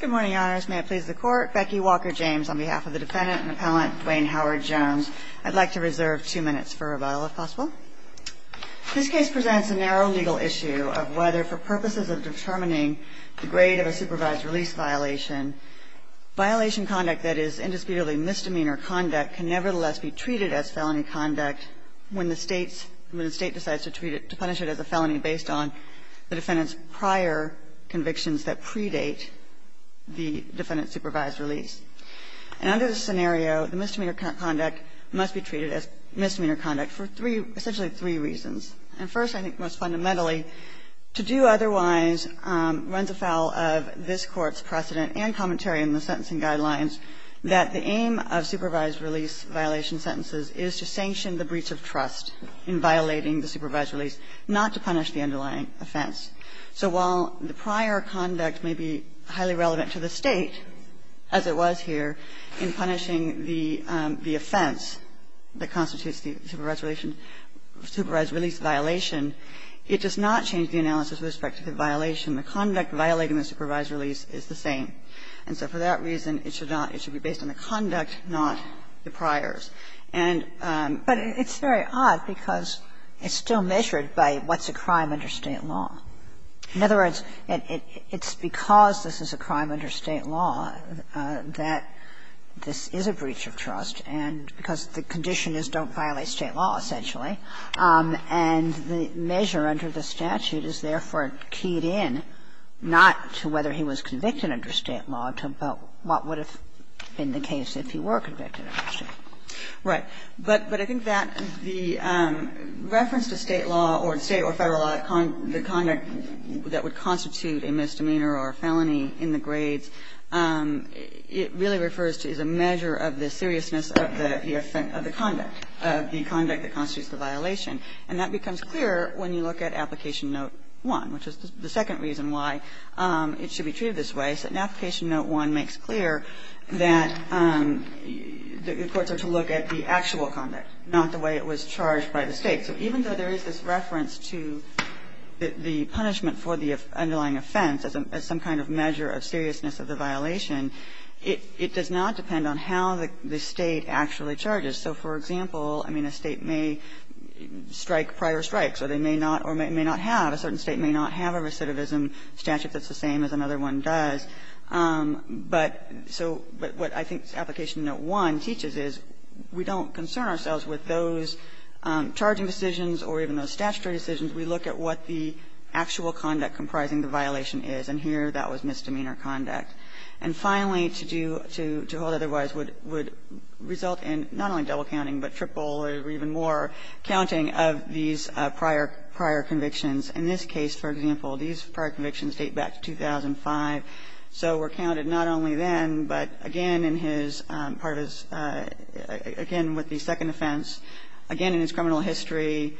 Good morning, Your Honors. May it please the Court, Becky Walker-James, on behalf of the Defendant and Appellant Duane Howard-Jones, I'd like to reserve two minutes for rebuttal, if possible. This case presents a narrow legal issue of whether, for purposes of determining the grade of a supervised release violation, violation conduct that is indisputably misdemeanor conduct can nevertheless be treated as felony conduct when the State decides to punish it as a felony based on the Defendant's prior convictions that predate the Defendant's supervised release. And under this scenario, the misdemeanor conduct must be treated as misdemeanor conduct for three – essentially three reasons. And first, I think most fundamentally, to do otherwise runs afoul of this Court's precedent and commentary in the sentencing guidelines that the aim of supervised release violation sentences is to sanction the breach of trust in violating the supervised release, not to punish the underlying offense. So while the prior conduct may be highly relevant to the State, as it was here in punishing the offense that constitutes the supervised release violation, it does not change the analysis with respect to the violation. The conduct violating the supervised release is the same. And so for that reason, it should not – it should be based on the conduct, not the priors. And – but it's very odd because it's still measured by what's a crime under State law. In other words, it's because this is a crime under State law that this is a breach of trust and – because the condition is don't violate State law, essentially. And the measure under the statute is therefore keyed in, not to whether he was convicted under State law, but what would have been the case if he were convicted under State law. Right. But I think that the reference to State law or State or Federal law, the conduct that would constitute a misdemeanor or a felony in the grades, it really refers to as a measure of the seriousness of the conduct, of the conduct that constitutes the violation. And that becomes clear when you look at Application Note 1, which is the second reason why it should be treated this way. So Application Note 1 makes clear that the courts are to look at the actual conduct, not the way it was charged by the State. So even though there is this reference to the punishment for the underlying offense as some kind of measure of seriousness of the violation, it does not depend on how the State actually charges. So, for example, I mean, a State may strike prior strikes, or they may not – or may not have – a certain State may not have a recidivism statute that's the same as another one does. But so what I think Application Note 1 teaches is we don't concern ourselves with those charging decisions or even those statutory decisions. We look at what the actual conduct comprising the violation is, and here that was misdemeanor conduct. And finally, to do – to hold otherwise would result in not only double-counting, but triple or even more counting of these prior – prior convictions. In this case, for example, these prior convictions date back to 2005, so were counted not only then, but again in his part of his – again with the second offense, again in his criminal history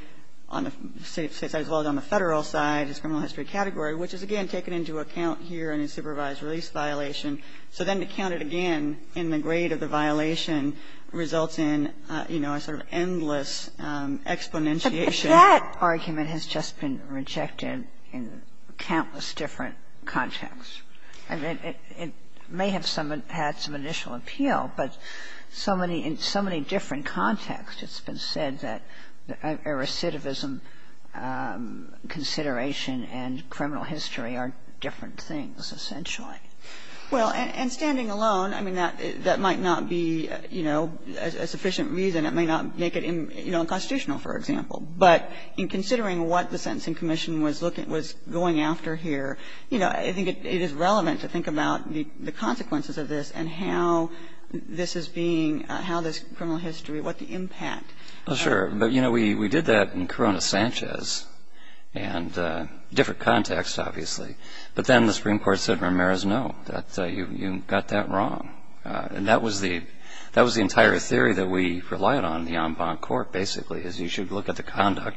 on the State side as well as on the Federal side, his criminal history category, which is again taken into account here in his supervised release violation. So then to count it again in the grade of the violation results in, you know, a sort of endless exponentiation. And that argument has just been rejected in countless different contexts. I mean, it may have some – had some initial appeal, but so many – in so many different contexts it's been said that a recidivism consideration and criminal history are different things essentially. Well, and standing alone, I mean, that might not be, you know, a sufficient reason. It may not make it, you know, unconstitutional, for example. But in considering what the Sentencing Commission was looking – was going after here, you know, I think it is relevant to think about the consequences of this and how this is being – how this criminal history – what the impact. Well, sure. But, you know, we did that in Corona-Sanchez and different contexts, obviously. But then the Supreme Court said, Ramirez, no, that you got that wrong. And that was the – that was the entire theory that we relied on in the en banc court, basically, is you should look at the conduct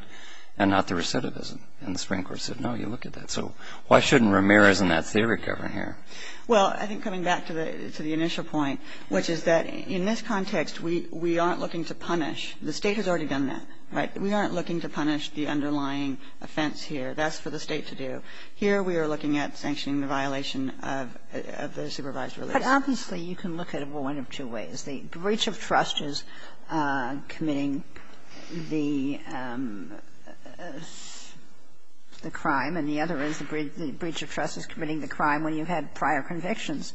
and not the recidivism. And the Supreme Court said, no, you look at that. So why shouldn't Ramirez and that theory govern here? Well, I think coming back to the – to the initial point, which is that in this context we aren't looking to punish – the State has already done that, right? We aren't looking to punish the underlying offense here. That's for the State to do. Here we are looking at sanctioning the violation of the supervised release. But obviously you can look at it, well, one of two ways. The breach of trust is committing the crime. And the other is the breach of trust is committing the crime when you had prior convictions.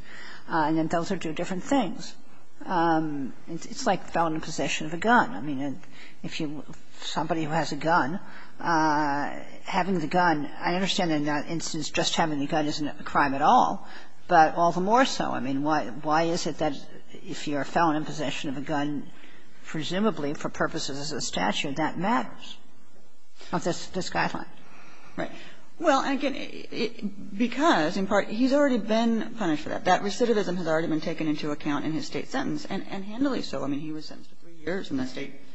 And then those are two different things. It's like felony possession of a gun. I mean, if you – somebody who has a gun, having the gun – I understand in that instance just having the gun isn't a crime at all, but all the more so. I mean, why is it that if you're a felon in possession of a gun, presumably for purposes of the statute, that matters of this guideline? Right. Well, again, because in part he's already been punished for that. That recidivism has already been taken into account in his State sentence, and handily so. I mean, he was sentenced to three years in the State –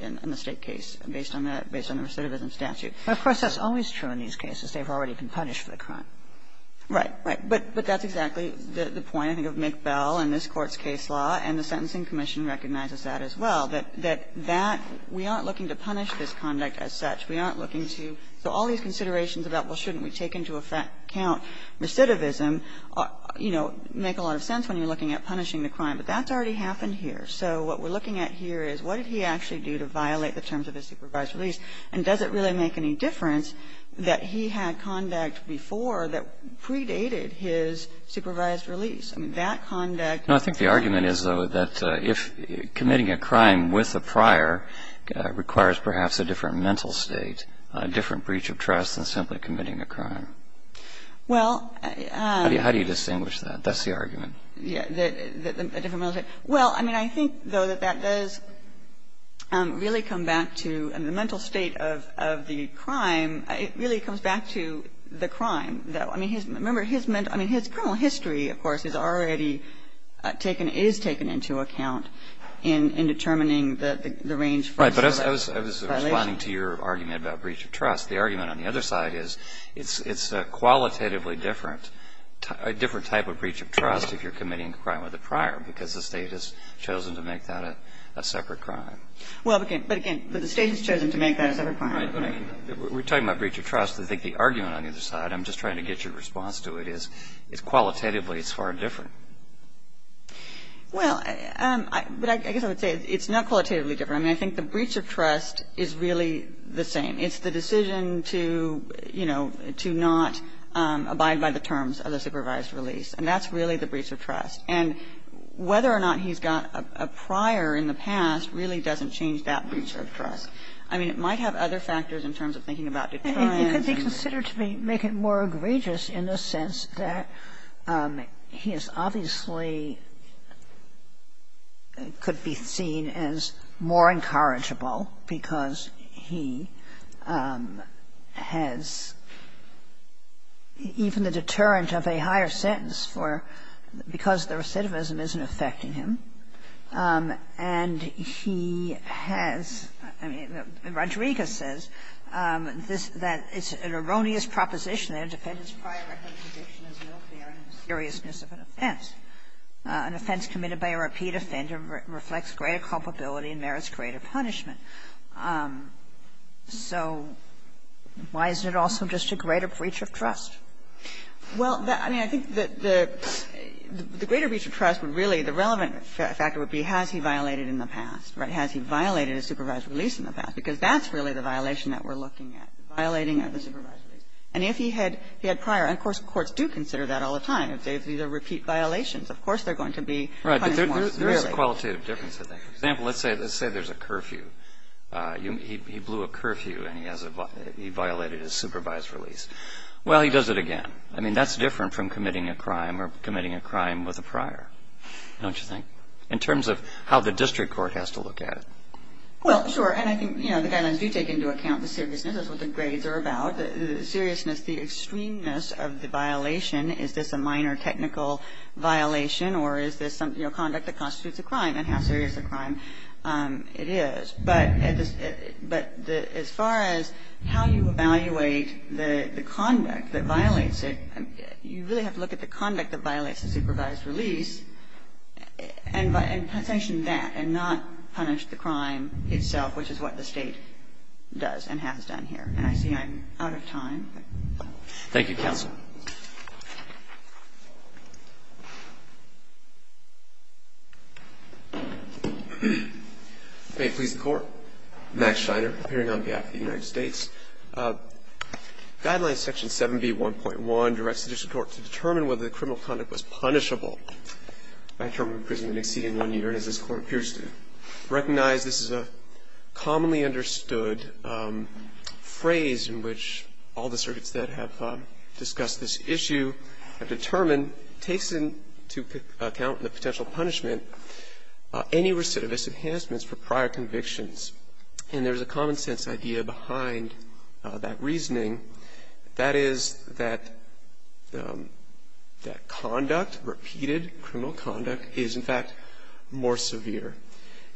in the State case based on that – based on the recidivism statute. Of course, that's always true in these cases. They've already been punished for the crime. Right. Right. But that's exactly the point, I think, of McBell and this Court's case law, and the Sentencing Commission recognizes that as well, that that – we aren't looking to punish this conduct as such. We aren't looking to – so all these considerations about, well, shouldn't we take into account recidivism, you know, make a lot of sense when you're looking at punishing the crime. But that's already happened here. So what we're looking at here is what did he actually do to violate the terms of his supervised release, and does it really make any difference that he had conduct before that predated his supervised release? I mean, that conduct – No, I think the argument is, though, that if committing a crime with a prior requires perhaps a different mental state, a different breach of trust than simply committing a crime. Well, I – How do you distinguish that? That's the argument. Yeah. A different mental state. Well, I mean, I think, though, that that does really come back to – I mean, the I mean, his – remember, his mental – I mean, his criminal history, of course, is already taken – is taken into account in determining the range for that violation. Right. But I was responding to your argument about breach of trust. The argument on the other side is it's a qualitatively different – a different type of breach of trust if you're committing a crime with a prior, because the State has chosen to make that a separate crime. Well, but again – but the State has chosen to make that a separate crime. Right. We're talking about breach of trust. I think the argument on the other side – I'm just trying to get your response to it – is it's qualitatively, it's far different. Well, I – but I guess I would say it's not qualitatively different. I mean, I think the breach of trust is really the same. It's the decision to, you know, to not abide by the terms of the supervised release, and that's really the breach of trust. And whether or not he's got a prior in the past really doesn't change that breach of trust. I mean, it might have other factors in terms of thinking about detriment. It could be considered to be – make it more egregious in the sense that he is obviously could be seen as more incorrigible because he has even the deterrent of a higher sentence for – because the recidivism isn't affecting him, and he has – I mean, Rodriguez says that it's an erroneous proposition that a defendant's prior record of conviction is no fair in the seriousness of an offense. An offense committed by a repeat offender reflects greater culpability and merits greater punishment. So why isn't it also just a greater breach of trust? Well, I mean, I think that the greater breach of trust would really – the relevant factor would be has he violated in the past, right? Because that's really the violation that we're looking at, violating of the supervisory. And if he had prior – and of course, courts do consider that all the time. If these are repeat violations, of course, they're going to be punished more severely. Right, but there's a qualitative difference, I think. For example, let's say there's a curfew. He blew a curfew, and he has a – he violated his supervised release. Well, he does it again. I mean, that's different from committing a crime or committing a crime with a prior, don't you think, in terms of how the district court has to look at it? Well, sure. And I think, you know, the guidelines do take into account the seriousness. That's what the grades are about. The seriousness, the extremeness of the violation. Is this a minor technical violation, or is this something – you know, conduct that constitutes a crime and how serious a crime it is. But as far as how you evaluate the conduct that violates it, you really have to look at the conduct that violates the supervised release and sanction that and not punish the crime itself, which is what the State does and has done here. And I see I'm out of time. Thank you, counsel. May it please the Court. Max Scheiner, appearing on behalf of the United States. Guidelines section 7B1.1 directs the district court to determine whether the criminal conduct was punishable by term of imprisonment exceeding one year, and as this Court appears to recognize, this is a commonly understood phrase in which all the circuits that have discussed this issue have determined takes into account the potential punishment any recidivist enhancements for prior convictions. And there's a common-sense idea behind that reasoning. That is that conduct, repeated criminal conduct, is, in fact, more severe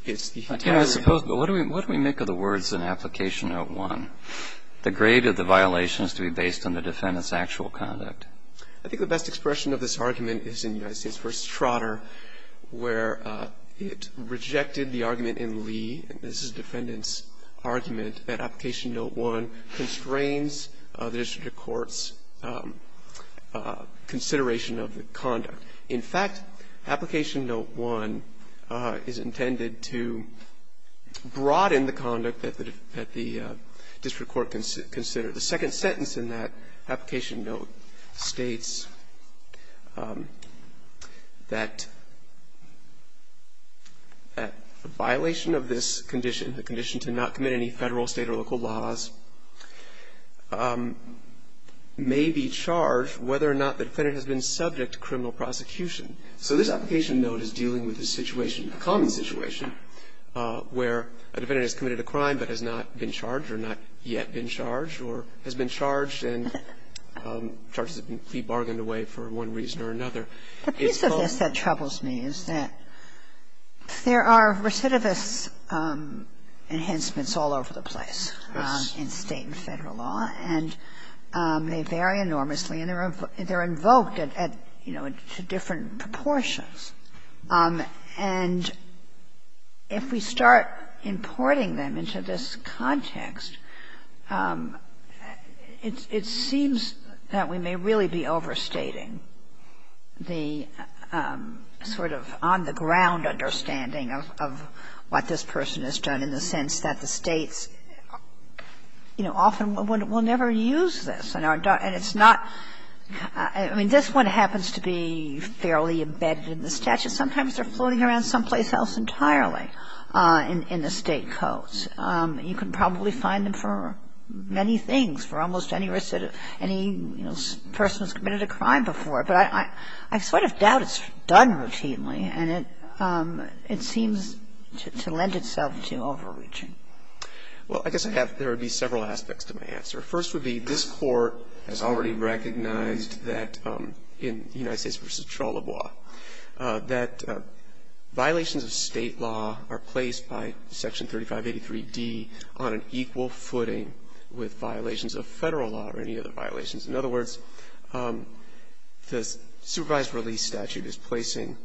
than the defendant's actual conduct. And the reason that the defendant's actual conduct is more severe is the heat of the rebuttal. Breyer, what do we make of the words in application note 1, the grade of the violation is to be based on the defendant's actual conduct? I think the best expression of this argument is in United States v. Trotter, where it rejected the argument in Lee, and this is the defendant's argument, that application note 1 is intended to broaden the district court's consideration of the conduct. In fact, application note 1 is intended to broaden the conduct that the district court considered. The second sentence in that application note states that a violation of this condition, a condition to not commit any Federal, State, or local laws, may be charged whether or not the defendant has been subject to criminal prosecution. So this application note is dealing with a situation, a common situation, where a defendant has committed a crime but has not been charged or not yet been charged or has been charged and charges have been bargained away for one reason or another. It's both. Kagan. Kagan. Kagan. The piece of this that troubles me is that there are recidivists enhancements all over the place in State and Federal law, and they vary enormously and they're invoked at, you know, to different proportions. And if we start importing them into this context, it seems that we may really be overstating the sort of on-the-ground understanding of what this person has done in the sense that the States, you know, often will never use this. And it's not – I mean, this one happens to be fairly embedded in the statute. Sometimes they're floating around someplace else entirely in the State codes. And you can probably find them for many things, for almost any person who's committed a crime before. But I sort of doubt it's done routinely, and it seems to lend itself to overreaching. Well, I guess I have – there would be several aspects to my answer. First would be this Court has already recognized that in United States v. Charlebois that violations of State law are placed by Section 3583d on an equal footing with violations of Federal law or any other violations. In other words, the supervised release statute is placing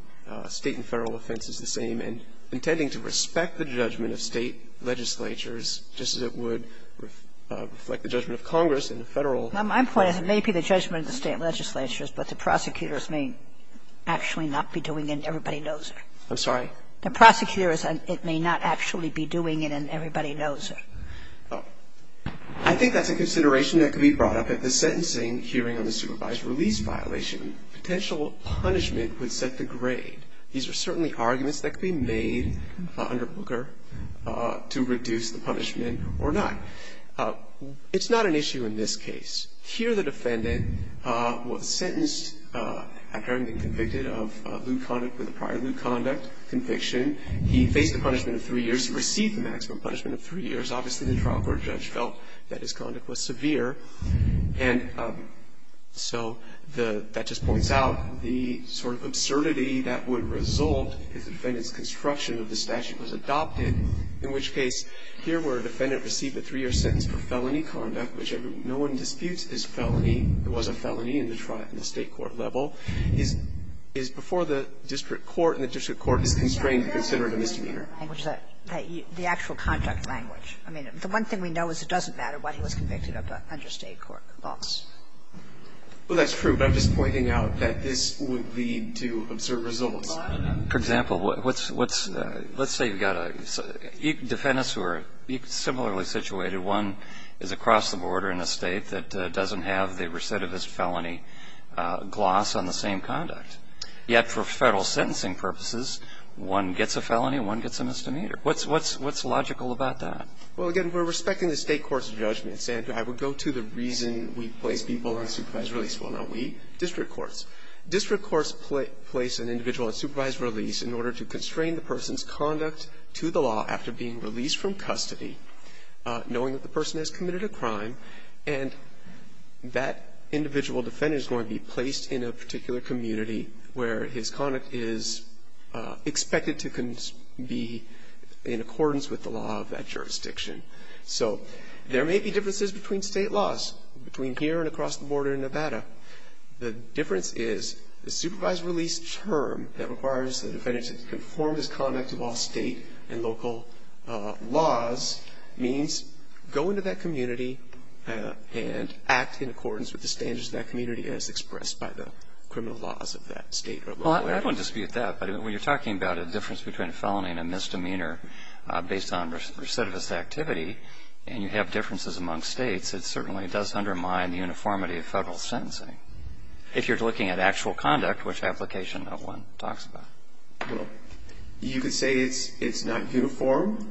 State and Federal offenses the same and intending to respect the judgment of State legislatures just as it would reflect the judgment of Congress in the Federal. Well, my point is it may be the judgment of the State legislatures, but the prosecutors may actually not be doing it, and everybody knows it. I'm sorry? The prosecutors, it may not actually be doing it, and everybody knows it. I think that's a consideration that could be brought up at the sentencing hearing on the supervised release violation. Potential punishment would set the grade. These are certainly arguments that could be made under Booker to reduce the punishment or not. It's not an issue in this case. Here the defendant was sentenced after having been convicted of lewd conduct with a prior lewd conduct conviction. He faced the punishment of three years. He received the maximum punishment of three years. Obviously, the trial court judge felt that his conduct was severe. And so the – that just points out the sort of absurdity that would result if the defendant's construction of the statute was adopted, in which case here where a defendant received a three-year sentence for felony conduct, which no one disputes is felony, it was a felony in the state court level, is before the district court, and the district court is constrained to consider it a misdemeanor. The actual conduct language. I mean, the one thing we know is it doesn't matter what he was convicted of under State court laws. Well, that's true, but I'm just pointing out that this would lead to absurd results. For example, what's – let's say you've got a – defendants who are similarly situated, one is across the border in a state that doesn't have the recidivist felony gloss on the same conduct. Yet for Federal sentencing purposes, one gets a felony and one gets a misdemeanor. What's logical about that? Well, again, we're respecting the State court's judgment, and I would go to the reason we place people on supervised release. Well, not we, district courts. District courts place an individual on supervised release in order to constrain the person's conduct to the law after being released from custody, knowing that the person has committed a crime, and that individual defendant is going to be placed in a particular community where his conduct is expected to be in accordance with the law of that jurisdiction. So there may be differences between State laws, between here and across the border in Nevada. The difference is the supervised release term that requires the defendant to conform his conduct to all State and local laws means go into that community and act in accordance with the standards of that community as expressed by the criminal laws of that State or local area. Well, I don't dispute that, but when you're talking about a difference between a felony and a misdemeanor based on recidivist activity, and you have differences among States, it certainly does undermine the uniformity of Federal sentencing. If you're looking at actual conduct, which application no one talks about. Well, you could say it's not uniform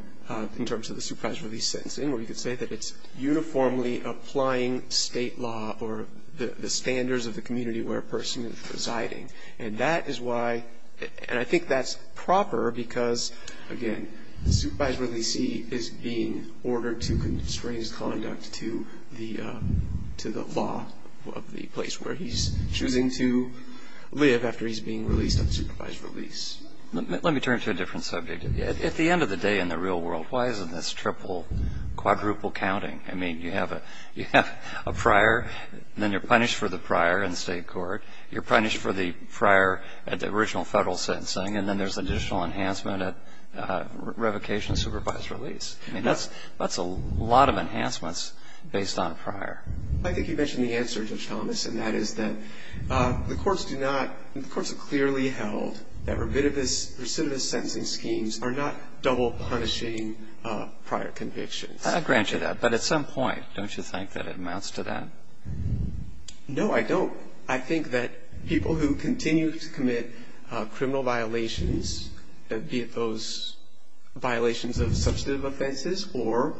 in terms of the supervised release sentencing, or you could say that it's uniformly applying State law or the standards of the community where a person is residing, and that is why, and I think that's proper because, again, the supervised releasee is being ordered to constrain his conduct to the law of the place where he's choosing to live after he's being released on supervised release. Let me turn to a different subject. At the end of the day in the real world, why isn't this triple, quadruple counting? I mean, you have a prior, then you're punished for the prior in State court, you're punished for the prior at the original Federal sentencing, and then there's additional enhancement at revocation of supervised release. I mean, that's a lot of enhancements based on prior. I think you mentioned the answer, Judge Thomas, and that is that the courts do not, the courts have clearly held that recidivist sentencing schemes are not double punishing prior convictions. I grant you that, but at some point, don't you think that it amounts to that? No, I don't. I think that people who continue to commit criminal violations, be it those violations of substantive offenses or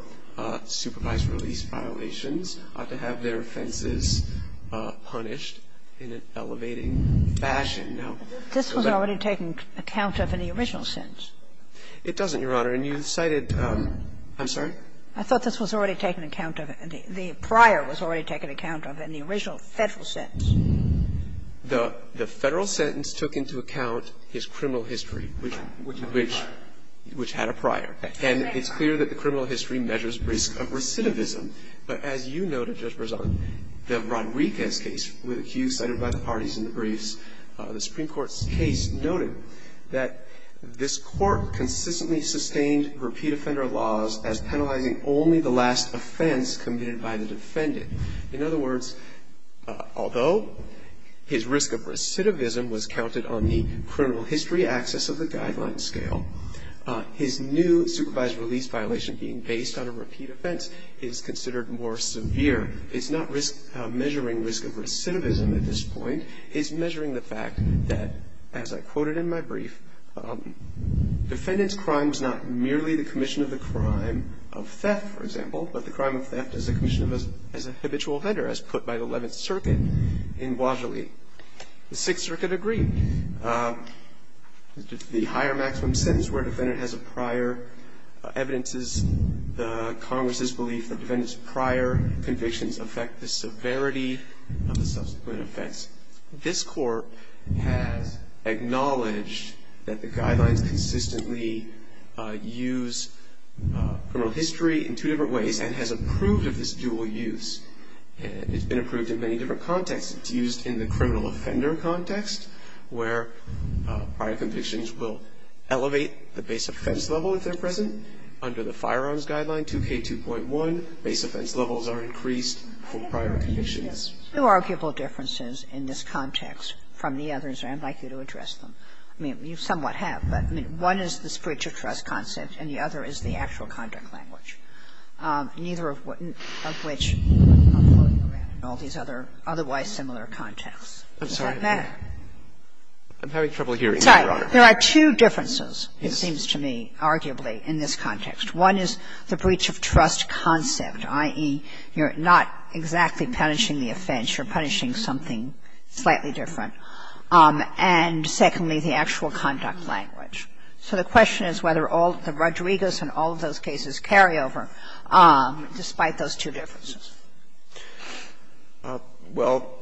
supervised release violations, ought to have their offenses punished in an elevating fashion. Now, the left of the two is not. This was already taken account of in the original sentence. It doesn't, Your Honor. And you cited the original Federal sentence. I'm sorry? I thought this was already taken account of. The prior was already taken account of in the original Federal sentence. The Federal sentence took into account his criminal history, which had a prior. And it's clear that the criminal history measures risk of recidivism. But as you noted, Judge Berzon, the Rodriguez case, which you cited by the parties in the briefs, the Supreme Court's case noted that this Court consistently sustained repeat offender laws as penalizing only the last offense committed by the defendant. In other words, although his risk of recidivism was counted on the criminal history axis of the guideline scale, his new supervised release violation being based on a repeat offense is considered more severe. It's not measuring risk of recidivism at this point. It's measuring the fact that, as I quoted in my brief, defendant's crime was not merely the commission of the crime of theft, for example, but the crime of theft as a commission of a habitual offender, as put by the Eleventh Circuit in Wadley. The Sixth Circuit agreed. The higher maximum sentence where a defendant has a prior evidence is the Congress' belief that defendant's prior convictions affect the severity of the subsequent offense. This Court has acknowledged that the guidelines consistently use criminal history as the basis for this dual use. It's been approved in many different contexts. It's used in the criminal offender context, where prior convictions will elevate the base offense level if they're present. Under the Firearms Guideline 2K2.1, base offense levels are increased for prior convictions. Kagan. No arguable differences in this context from the others, and I'd like you to address them. I mean, you somewhat have, but, I mean, one is the spiritual trust concept, and the other is the actual conduct language, neither of which are floating around in all these other otherwise similar contexts. Is that better? I'm sorry, I'm having trouble hearing you, Your Honor. It's all right. There are two differences, it seems to me, arguably, in this context. One is the breach of trust concept, i.e., you're not exactly punishing the offense. You're punishing something slightly different. And secondly, the actual conduct language. So the question is whether all the Rodriguez and all of those cases carry over, despite those two differences. Well,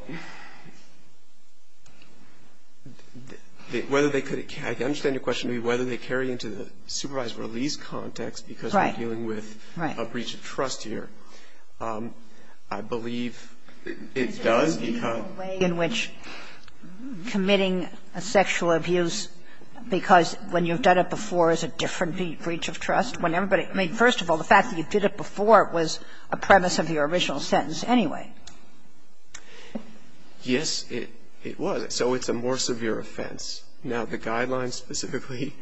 whether they could carry into the supervised release context because we're dealing with a breach of trust here. I believe it does become a way in which committing a sexual abuse because the way when you've done it before is a different breach of trust. When everybody, I mean, first of all, the fact that you did it before was a premise of your original sentence anyway. Yes, it was. So it's a more severe offense. Now, the guidelines specifically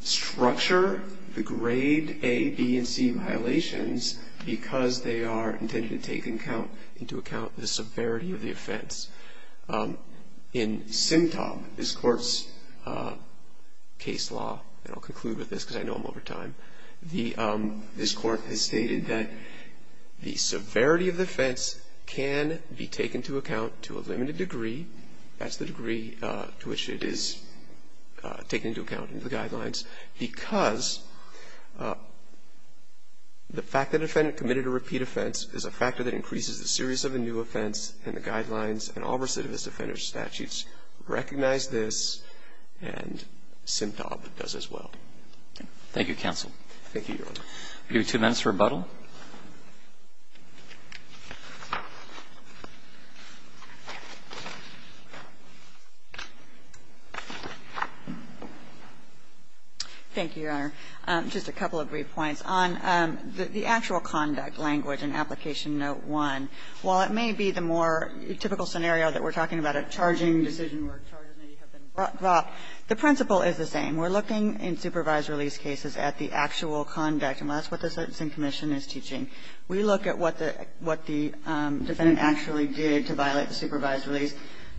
structure the grade A, B, and C violations in SIMTOP, this court's case law. And I'll conclude with this because I know I'm over time. This court has stated that the severity of the offense can be taken to account to a limited degree. That's the degree to which it is taken into account in the guidelines. Because the fact that a defendant committed a repeat offense is a factor that increases the serious of the new offense and the guidelines and all recidivist offenders statutes recognize this and SIMTOP does as well. Thank you, counsel. Thank you, Your Honor. Give you two minutes for rebuttal. Thank you, Your Honor. Just a couple of brief points. On the actual conduct language in Application Note 1, while it may be the more typical scenario that we're talking about, a charging decision where charges may have been brought, the principle is the same. We're looking in supervised release cases at the actual conduct. And that's what the Sentencing Commission is teaching. We look at what the defendant actually did to violate the supervised release,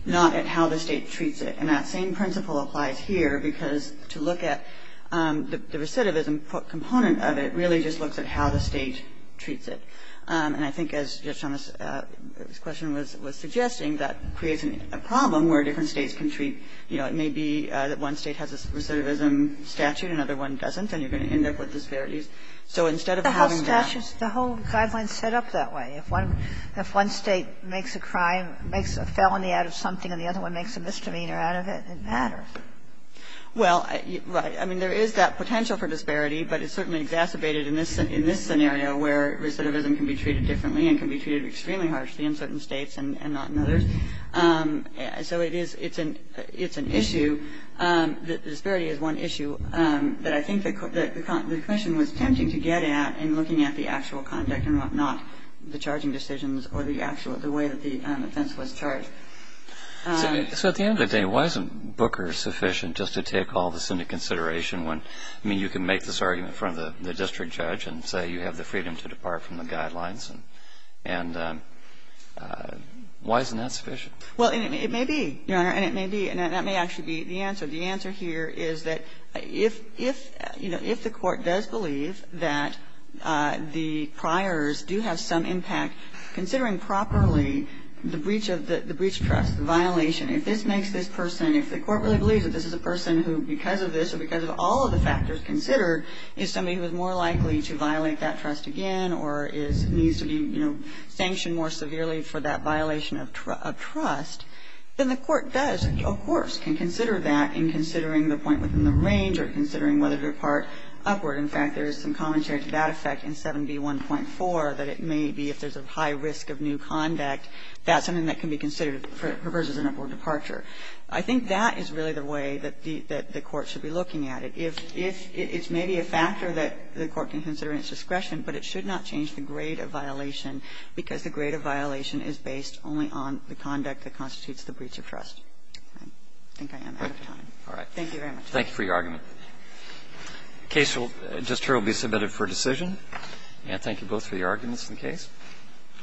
not at how the State treats it. And that same principle applies here because to look at the recidivism component of it really just looks at how the State treats it. And I think as Your Honor's question was suggesting, that creates a problem where different States can treat, you know, it may be that one State has a recidivism statute, another one doesn't, and you're going to end up with disparities. So instead of having that the whole guidelines set up that way, if one State makes a crime, makes a felony out of something and the other one makes a misdemeanor out of it, it matters. Well, right, I mean, there is that potential for disparity, but it's certainly exacerbated in this scenario where recidivism can be treated differently and can be treated extremely harshly in certain States and not in others. So it's an issue, the disparity is one issue, that I think the commission was attempting to get at in looking at the actual conduct and not the charging decisions or the way that the offense was charged. So at the end of the day, why isn't Booker sufficient just to take all this into consideration when, I mean, you can make this argument in front of the district judge and say you have the freedom to depart from the guidelines, and why isn't that sufficient? Well, it may be, Your Honor, and it may be, and that may actually be the answer. The answer here is that if, you know, if the court does believe that the priors do have some impact, considering properly the breach trust, the violation, if this makes this person, if the court really believes that this is a person who, because of this or because of all of the factors considered, is somebody who is more likely to violate that trust again or is, needs to be, you know, sanctioned more severely for that violation of trust, then the court does, of course, can consider that in considering the point within the range or considering whether to depart upward. In fact, there is some commentary to that effect in 7b.1.4 that it may be, if there's a high risk of new conduct, that's something that can be considered for a perversion of upward departure. I think that is really the way that the court should be looking at it. If it's maybe a factor that the court can consider in its discretion, but it should not change the grade of violation because the grade of violation is based only on the conduct that constitutes the breach of trust. I think I am out of time. Thank you very much. Roberts. Thank you for your argument. The case just here will be submitted for decision. And thank you both for your arguments in the case.